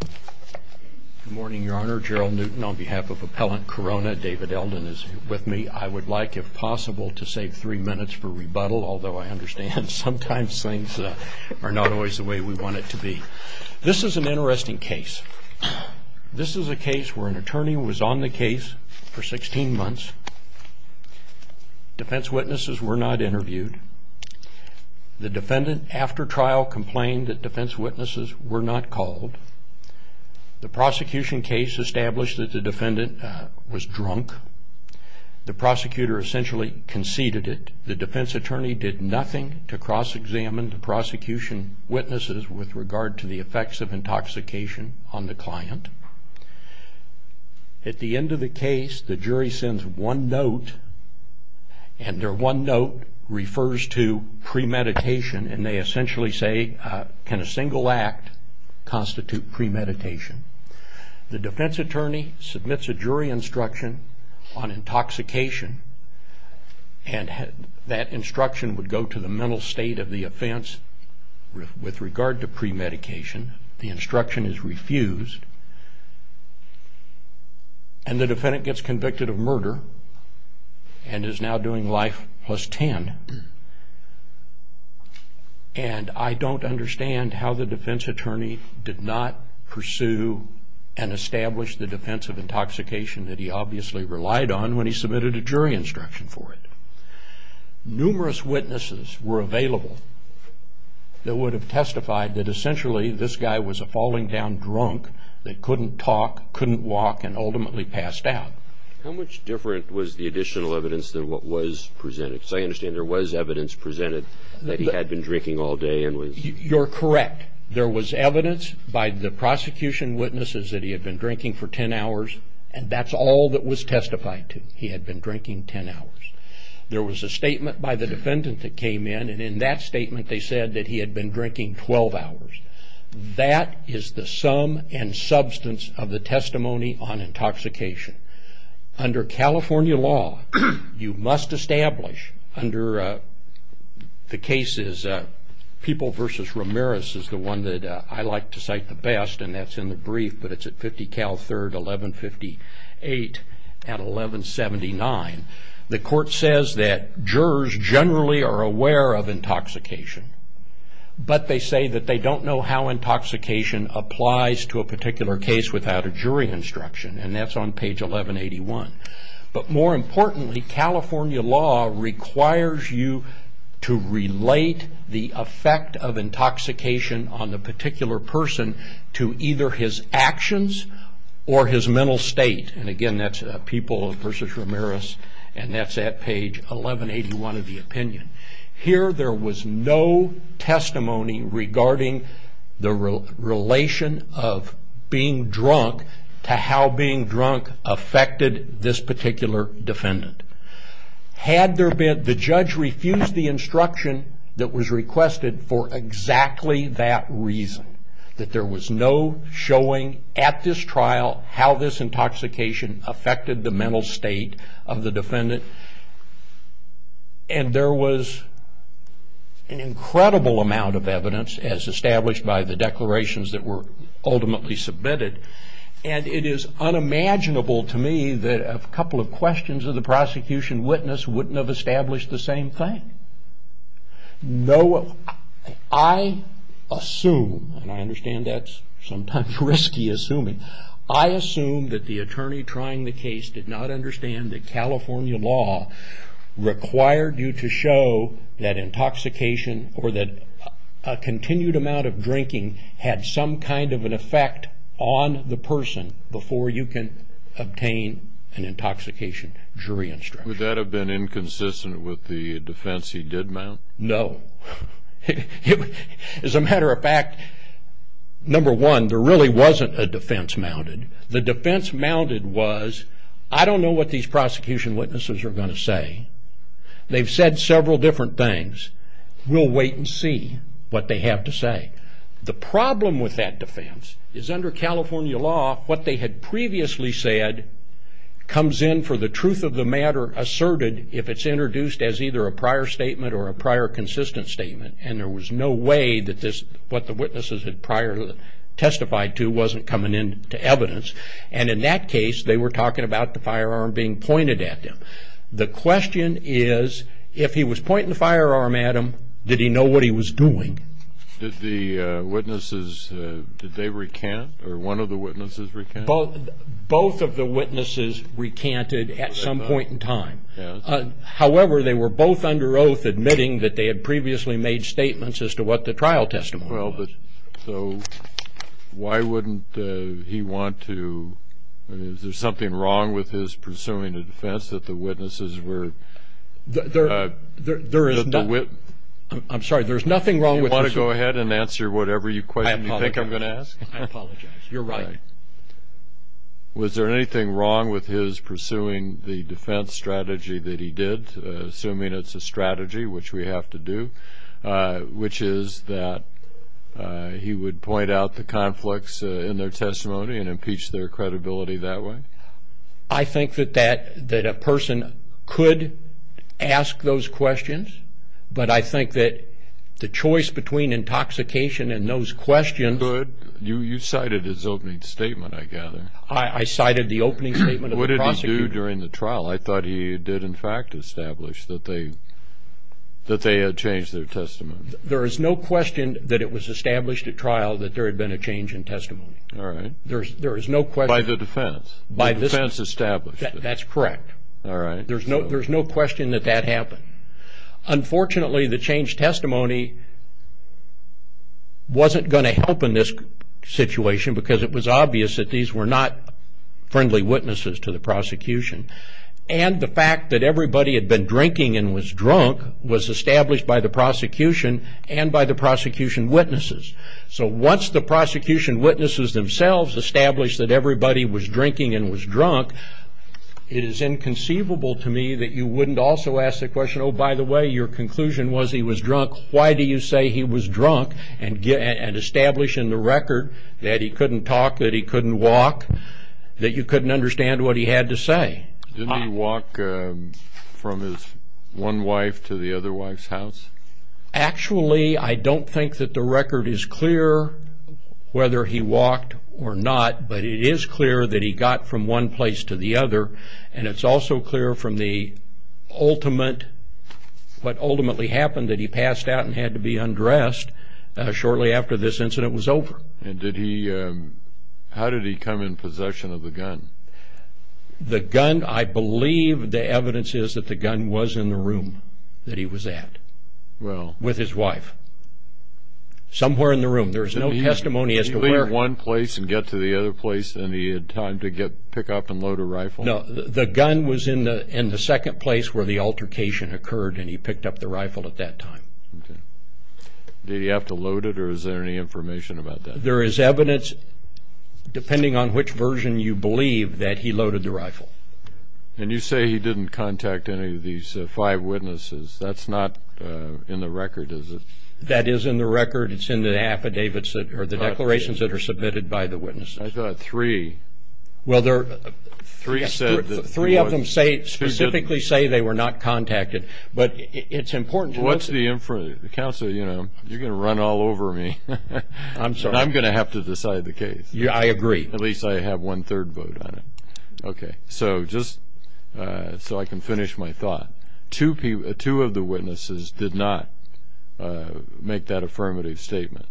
Good morning, Your Honor. On behalf of Appellant Corona, David Elden is with me. I would like, if possible, to save three minutes for rebuttal, although I understand sometimes things are not always the way we want it to be. This is an interesting case. This is a case where an attorney was on the case for 16 months. Defense witnesses were not interviewed. The defendant, after trial, complained that defense witnesses were not called. The prosecution case established that the defendant was drunk. The prosecutor essentially conceded it. The defense attorney did nothing to cross-examine the prosecution witnesses with regard to the effects of intoxication on the client. At the end of the case, the jury sends one note, and their one note refers to premeditation, and they essentially say, can a single act constitute premeditation? The defense attorney submits a jury instruction on intoxication, and that instruction would go to the mental state of the offense with regard to premeditation. The instruction is refused, and the defendant gets convicted of murder and is now doing life plus 10. And I don't understand how the defense attorney did not pursue and establish the defense of intoxication that he obviously relied on when he submitted a jury instruction for it. Numerous witnesses were available that would have testified that essentially this guy was a falling down drunk that couldn't talk, couldn't walk, and ultimately passed out. How much different was the additional evidence than what was presented? Because I understand there was evidence presented that he had been drinking all day and was... You're correct. There was evidence by the prosecution witnesses that he had been drinking for 10 hours, and that's all that was testified to. He had been drinking 10 hours. There was a statement by the defendant that came in, and in that statement they said that he had been drinking 12 hours. That is the sum and substance of the testimony on intoxication. Under California law, you must establish under the cases... People versus Ramirez is the one that I like to cite the best, and that's in the brief, but it's at 50 Cal 3rd, 1158, and 1179. The court says that jurors generally are aware of intoxication, but they say that they don't know how intoxication applies to a particular case without a jury instruction, and that's on page 1181. But more importantly, California law requires you to relate the effect of intoxication on a particular person to either his actions or his mental state, and again, that's people versus Ramirez, and that's at page 1181 of the opinion. Here there was no testimony regarding the relation of being drunk to how being drunk affected this particular defendant. Had there been... The judge refused the instruction that was requested for exactly that reason, that there was no showing at this trial how this intoxication affected the mental state of the defendant, and there was an incredible amount of evidence, as established by the declarations that were wouldn't have established the same thing. I assume, and I understand that's sometimes risky assuming, I assume that the attorney trying the case did not understand that California law required you to show that intoxication or that a continued amount of drinking had some kind of an effect on the person before you can obtain an intoxication jury instruction. Would that have been inconsistent with the defense he did mount? No. As a matter of fact, number one, there really wasn't a defense mounted. The defense mounted was, I don't know what these prosecution witnesses are going to say. They've said several different things. We'll wait and see what they have to say. The problem with that defense is under California law, what they had previously said comes in for the truth of the matter asserted if it's introduced as either a prior statement or a prior consistent statement, and there was no way that what the witnesses had prior testified to wasn't coming into evidence. In that case, they were talking about the firearm being pointed at them. The question is, if he was pointing the firearm at him, did he know what he was doing? Did the witnesses, did they recant, or one of the witnesses recant? Both of the witnesses recanted at some point in time. However, they were both under oath admitting that they had previously made statements as to what the trial testimony was. Why wouldn't he want to, is there something wrong with his pursuing a defense that the witnesses were? I'm sorry, there's nothing wrong with this. Do you want to go ahead and answer whatever question you think I'm going to ask? I apologize. You're right. Was there anything wrong with his pursuing the defense strategy that he did, assuming it's a strategy, which we have to do, which is that he would point out the conflicts in their testimony and impeach their credibility that way? I think that a person could ask those questions, but I think that the choice between intoxication and those questions... You cited his opening statement, I gather. I cited the opening statement of the prosecutor. What did he do during the trial? I thought he did, in fact, establish that they had changed their testimony. There is no question that it was established at trial that there had been a change in testimony. There is no question. By the defense? The defense established it? That's correct. All right. There's no question that that happened. Unfortunately, the changed testimony wasn't going to help in this situation because it was obvious that these were not friendly witnesses to the prosecution. The fact that everybody had been drinking and was drunk was established by the prosecution and by the prosecution witnesses. Once the prosecution witnesses themselves established that everybody was drinking and was drunk, it is inconceivable to me that you wouldn't also ask the question, oh, by the way, your conclusion was he was drunk. Why do you say he was drunk and establish in the record that he couldn't talk, that he couldn't walk, that you couldn't understand what he had to say? Didn't he walk from his one wife to the other wife's house? Actually, I don't think that the record is clear whether he walked or not, but it is clear that he got from one place to the other, and it's also clear from the ultimate, what ultimately happened, that he passed out and had to be undressed shortly after this incident was over. And did he, how did he come in possession of the gun? The gun, I believe the evidence is that the gun was in the room that he was at with his wife, somewhere in the room. There's no testimony as to where. Did he leave it at one place and get to the other place, and he had time to pick up and load a rifle? No, the gun was in the second place where the altercation occurred, and he picked up the rifle at that time. Did he have to load it, or is there any information about that? There is evidence, depending on which version you believe, that he loaded the rifle. And you say he didn't contact any of these five witnesses. That's not in the record, is it? That is in the record. It's in the affidavits, or the declarations that are submitted by the witnesses. I thought three. Well, there... Three said... Yes, three of them specifically say they were not contacted, but it's important to... What's the... Counsel, you know, you're going to run all over me. I'm sorry. I'm going to have to decide the case. Yeah, I agree. At least I have one third vote on it. Okay, so just so I can finish my thought. Two of the witnesses did not make that affirmative statement.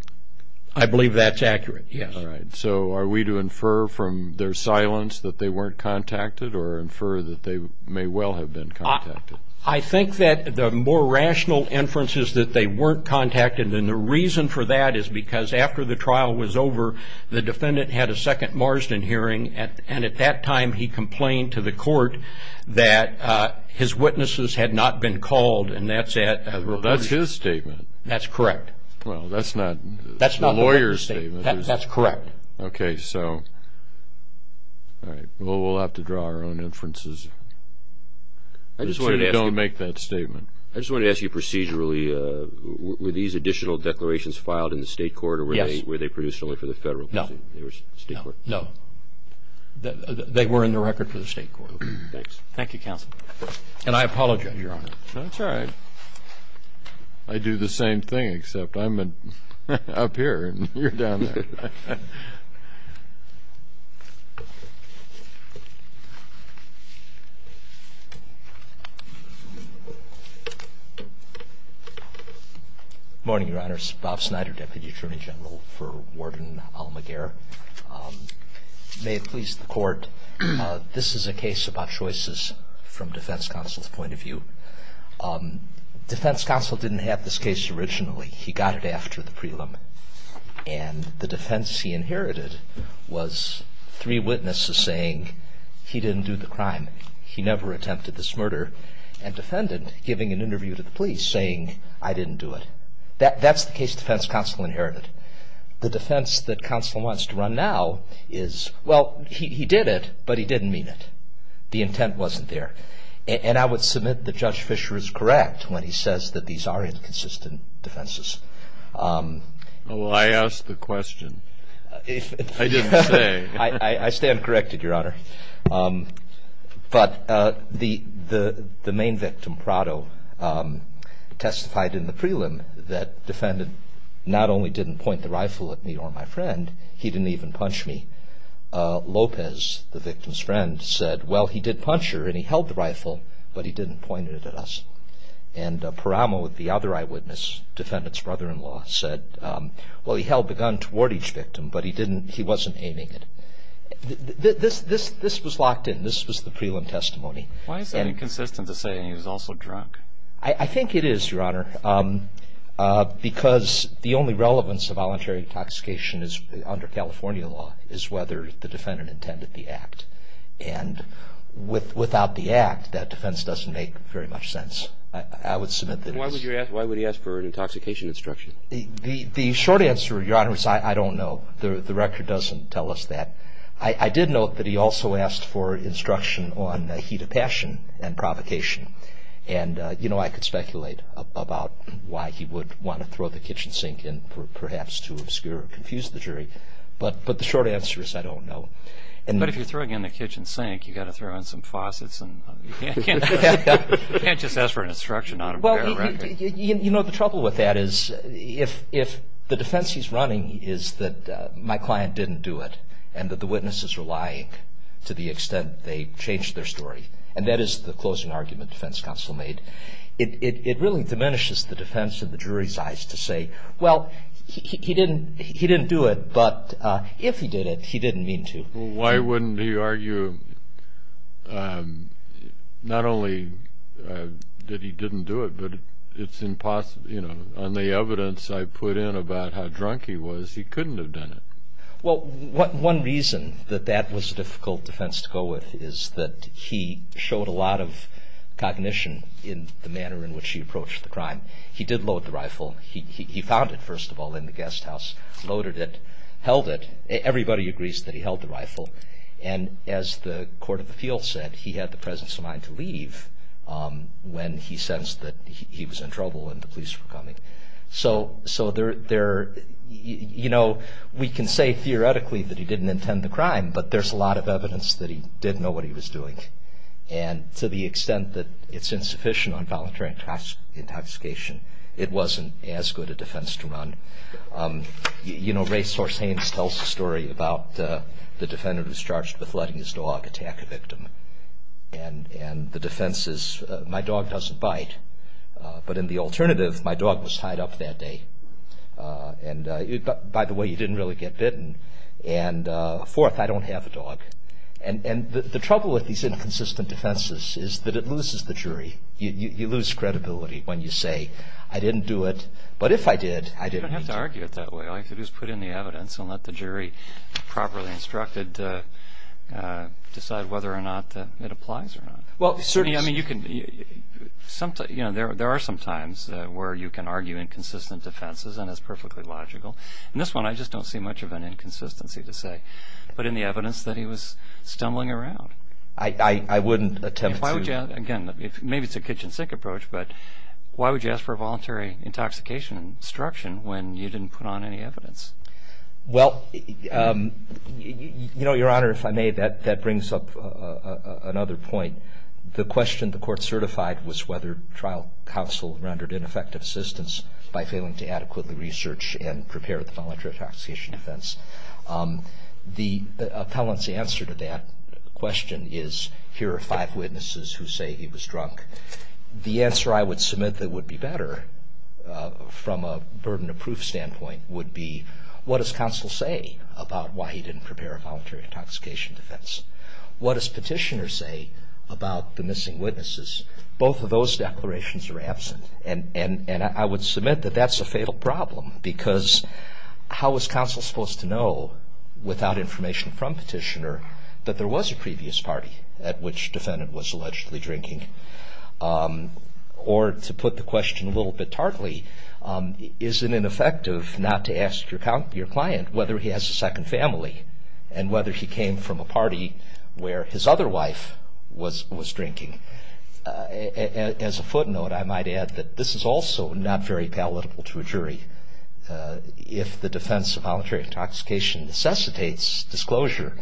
I believe that's accurate, yes. All right. So are we to infer from their silence that they weren't contacted, or infer that they may well have been contacted? I think that the more rational inference is that they weren't contacted, and the reason for that is because after the trial was over, the defendant had a second Marsden hearing, and at that time, he complained to the court that his witnesses had not been called, and that's at... Well, that's his statement. That's correct. Well, that's not... That's not the lawyer's statement. That's correct. Okay, so... All right. Well, we'll have to draw our own inferences. I just wanted to ask you... Assuming they don't make that statement. I just wanted to ask you procedurally, were these additional declarations filed in the state court, or were they produced only for the federal... No. State court? No. No. They were in the record for the state court. Okay. Thanks. Thank you, counsel. And I apologize, Your Honor. That's all right. I do the same thing, except I'm up here, and you're down there. Morning, Your Honors. Bob Snyder, Deputy Attorney General for Warden Almaguerre. May it please the court, this is a case about choices from defense counsel's point of view. Defense counsel didn't have this case originally. He got it after the prelim, and the defense he inherited was three witnesses saying he didn't do the crime, he never attempted this murder, and defendant giving an interview to the police saying, I didn't do it. That's the case defense counsel inherited. The defense that counsel wants to run now is, well, he did it, but he didn't mean it. The intent wasn't there. And I would submit that Judge Fischer is correct when he says that these are inconsistent defenses. Well, I asked the question. I didn't say. I stand corrected, Your Honor. But the main victim, Prado, testified in the prelim that defendant not only didn't point the rifle at me or my friend, he didn't even punch me. Lopez, the victim's friend, said, well, he did punch her and he held the rifle, but he didn't point it at us. And Paramo, the other eyewitness, defendant's brother-in-law, said, well, he held the gun toward each victim, but he wasn't aiming it. This was locked in. This was the prelim testimony. Why is that inconsistent to say he was also drunk? I think it is, Your Honor, because the only relevance of voluntary intoxication under California law is whether the defendant intended the act. And without the act, that defense doesn't make very much sense. I would submit that it is. Why would he ask for an intoxication instruction? The short answer, Your Honor, is I don't know. The record doesn't tell us that. I did note that he also asked for instruction on heat of passion and provocation. And you know, I could speculate about why he would want to throw the kitchen sink in for perhaps to obscure or confuse the jury, but the short answer is I don't know. But if you're throwing in the kitchen sink, you've got to throw in some faucets and you can't just ask for an instruction on a bare record. You know, the trouble with that is if the defense he's running is that my client didn't do it and that the witnesses are lying to the extent they changed their story, and that is the closing argument the defense counsel made, it really diminishes the defense in saying, well, he didn't do it, but if he did it, he didn't mean to. Why wouldn't he argue not only that he didn't do it, but it's impossible, you know, on the evidence I put in about how drunk he was, he couldn't have done it. Well, one reason that that was a difficult defense to go with is that he showed a lot of cognition in the manner in which he approached the crime. He did load the rifle. He found it, first of all, in the guest house, loaded it, held it. Everybody agrees that he held the rifle, and as the court of appeals said, he had the presence of mind to leave when he sensed that he was in trouble and the police were coming. So there, you know, we can say theoretically that he didn't intend the crime, but there's a lot of evidence that he did know what he was doing, and to the extent that it's insufficient on voluntary intoxication, it wasn't as good a defense to run. You know, Ray Sorsains tells a story about the defendant who's charged with letting his dog attack a victim, and the defense is, my dog doesn't bite, but in the alternative, my dog was tied up that day, and by the way, he didn't really get bitten, and fourth, I don't have a dog, and the trouble with these inconsistent defenses is that it loses the credibility when you say, I didn't do it, but if I did, I didn't do it. You don't have to argue it that way. All you have to do is put in the evidence and let the jury, properly instructed, decide whether or not it applies or not. Well, certainly, I mean, you can, you know, there are some times where you can argue inconsistent defenses, and it's perfectly logical. This one, I just don't see much of an inconsistency to say, but in the evidence that he was stumbling around. I wouldn't attempt to. Well, why would you, again, maybe it's a kitchen sink approach, but why would you ask for a voluntary intoxication instruction when you didn't put on any evidence? Well, you know, your honor, if I may, that brings up another point. The question the court certified was whether trial counsel rendered ineffective assistance by failing to adequately research and prepare the voluntary intoxication defense. The appellant's answer to that question is, here are five witnesses who say he was drunk. The answer I would submit that would be better from a burden of proof standpoint would be, what does counsel say about why he didn't prepare a voluntary intoxication defense? What does petitioner say about the missing witnesses? Both of those declarations are absent, and I would submit that that's a fatal problem because how was counsel supposed to know without information from petitioner that there was a previous party at which defendant was allegedly drinking? Or to put the question a little bit tartly, is it ineffective not to ask your client whether he has a second family and whether he came from a party where his other wife was drinking? As a footnote, I might add that this is also not very palatable to a jury. If the defense of voluntary intoxication necessitates disclosure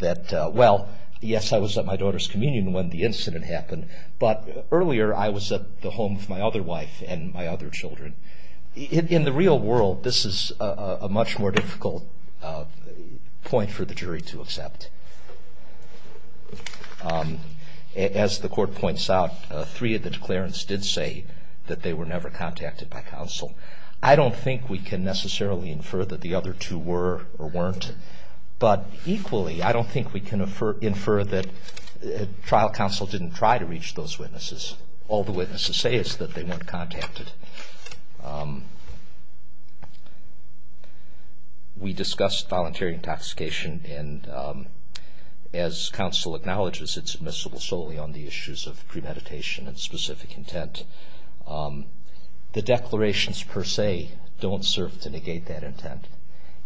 that, well, yes, I was at my daughter's communion when the incident happened, but earlier I was at the home of my other wife and my other children. In the real world, this is a much more difficult point for the jury to accept. As the court points out, three of the declarants did say that they were never contacted by counsel. I don't think we can necessarily infer that the other two were or weren't, but equally I don't think we can infer that trial counsel didn't try to reach those witnesses. All the witnesses say is that they weren't contacted. We discussed voluntary intoxication, and as counsel acknowledges, it's admissible solely on the issues of premeditation and specific intent. The declarations per se don't serve to negate that intent,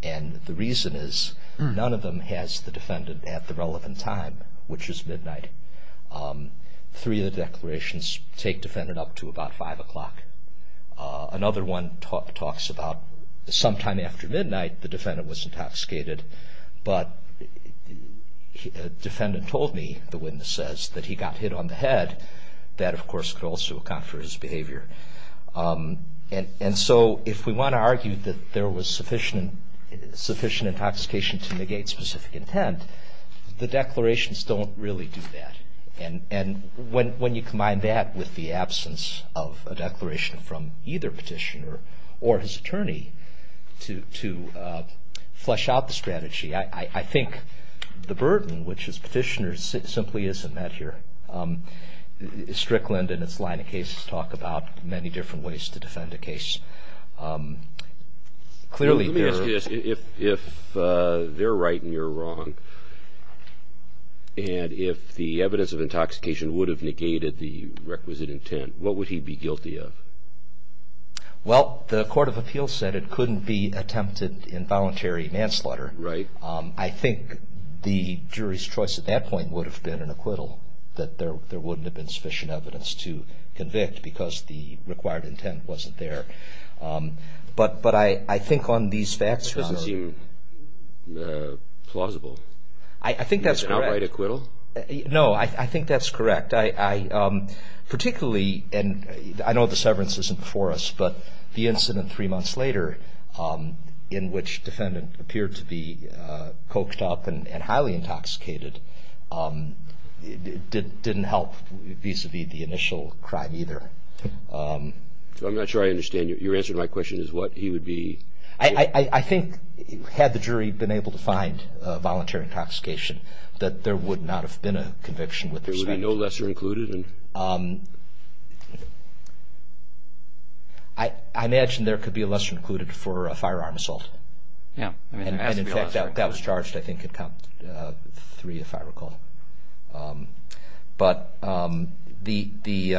and the reason is none of them has the defendant at the relevant time, which is midnight. Three of the declarations take the defendant up to about 5 o'clock. Another one talks about sometime after midnight the defendant was intoxicated, but the defendant told me, the witness says, that he got hit on the head. That of course could also account for his behavior, and so if we want to argue that there was sufficient intoxication to negate specific intent, the declarations don't really do that, and when you combine that with the absence of a declaration from either petitioner or his attorney to flesh out the strategy, I think the burden, which is petitioners, simply isn't met here. Strickland and its line of cases talk about many different ways to defend a case. Let me ask you this. If they're right and you're wrong, and if the evidence of intoxication would have negated the requisite intent, what would he be guilty of? Well, the Court of Appeals said it couldn't be attempted in voluntary manslaughter. I think the jury's choice at that point would have been an acquittal, that there wouldn't have been sufficient evidence to convict, because the required intent wasn't there. But I think on these facts, John... That doesn't seem plausible. I think that's correct. An outright acquittal? No, I think that's correct. Particularly, and I know the severance isn't before us, but the incident three months later, in which the defendant appeared to be coked up and highly intoxicated, didn't help the jury vis-a-vis the initial crime, either. I'm not sure I understand. Your answer to my question is what he would be... I think, had the jury been able to find voluntary intoxication, that there would not have been a conviction with respect to that. There would be no lesser included? I imagine there could be a lesser included for a firearm assault, and in fact, that was charged, I think, at count three, if I recall. But the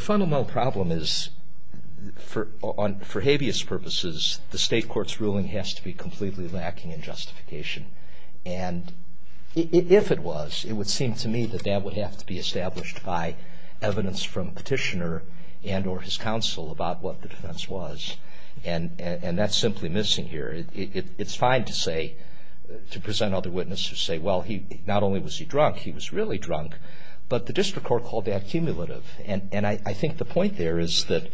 fundamental problem is, for habeas purposes, the state court's ruling has to be completely lacking in justification. And if it was, it would seem to me that that would have to be established by evidence from Petitioner and or his counsel about what the defense was, and that's simply missing here. It's fine to say, to present other witnesses who say, well, not only was he drunk, he was really drunk, but the district court called that cumulative. And I think the point there is that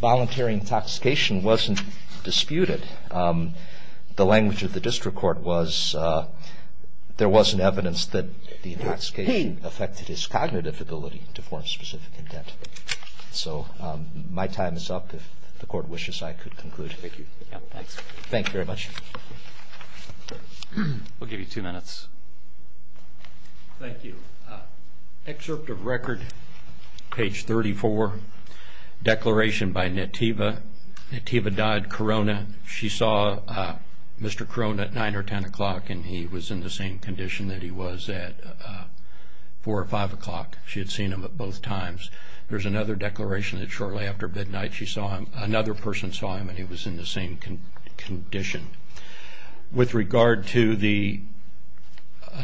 voluntary intoxication wasn't disputed. The language of the district court was, there wasn't evidence that the intoxication affected his cognitive ability to form specific intent. So my time is up, if the court wishes I could conclude. Thank you very much. Thank you. Thanks. Thank you very much. We'll give you two minutes. Thank you. Excerpt of record, page 34, declaration by Nativa, Nativa Dodd Corona, she saw Mr. Corona at 9 or 10 o'clock and he was in the same condition that he was at 4 or 5 o'clock. She had seen him at both times. There's another declaration that shortly after midnight she saw him, another person saw him and he was in the same condition. With regard to the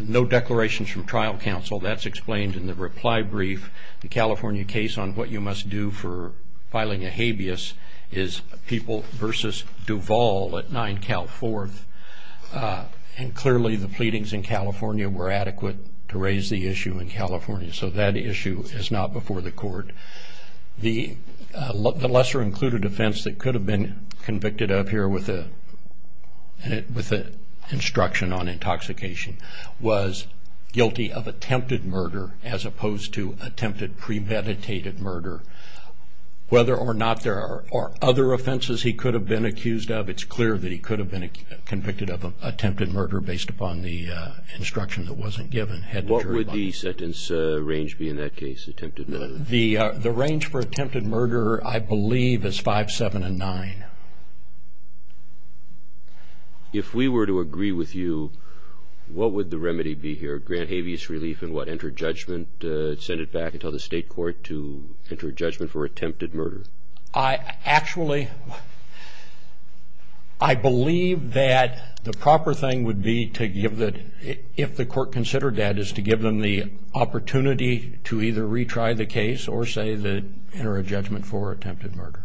no declarations from trial counsel, that's explained in the reply brief. The California case on what you must do for filing a habeas is People v. Duvall at 9 Cal 4th. And clearly the pleadings in California were adequate to raise the issue in California. So that issue is not before the court. The lesser included offense that could have been convicted up here with an instruction on intoxication was guilty of attempted murder as opposed to attempted premeditated murder. Whether or not there are other offenses he could have been accused of, it's clear that he could have been convicted of attempted murder based upon the instruction that wasn't given. What would the sentence range be in that case, attempted murder? The range for attempted murder, I believe, is 5, 7, and 9. If we were to agree with you, what would the remedy be here, grant habeas relief and what enter judgment, send it back to the state court to enter judgment for attempted murder? Actually, I believe that the proper thing would be to give the, if the court considered that, is to give them the opportunity to either retry the case or say that enter a judgment for attempted murder.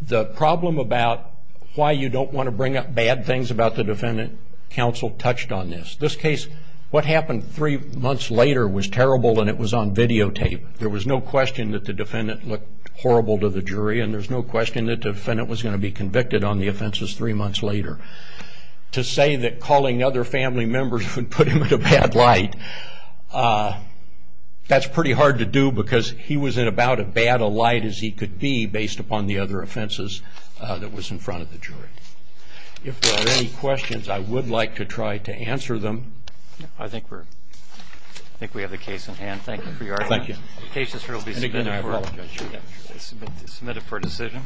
The problem about why you don't want to bring up bad things about the defendant, counsel touched on this. This case, what happened three months later was terrible and it was on videotape. There was no question that the defendant looked horrible to the jury and there's no question that the defendant was going to be convicted on the offenses three months later. To say that calling other family members would put him in a bad light, that's pretty hard to do because he was in about as bad a light as he could be based upon the other offenses that was in front of the jury. If there are any questions, I would like to try to answer them. I think we're, I think we have the case in hand. Thank you for your argument. Thank you. The case will be submitted. I apologize. Submitted for decision.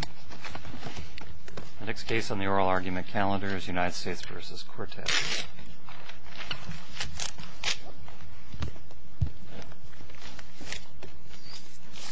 The next case on the oral argument calendar is United States v. Quartet.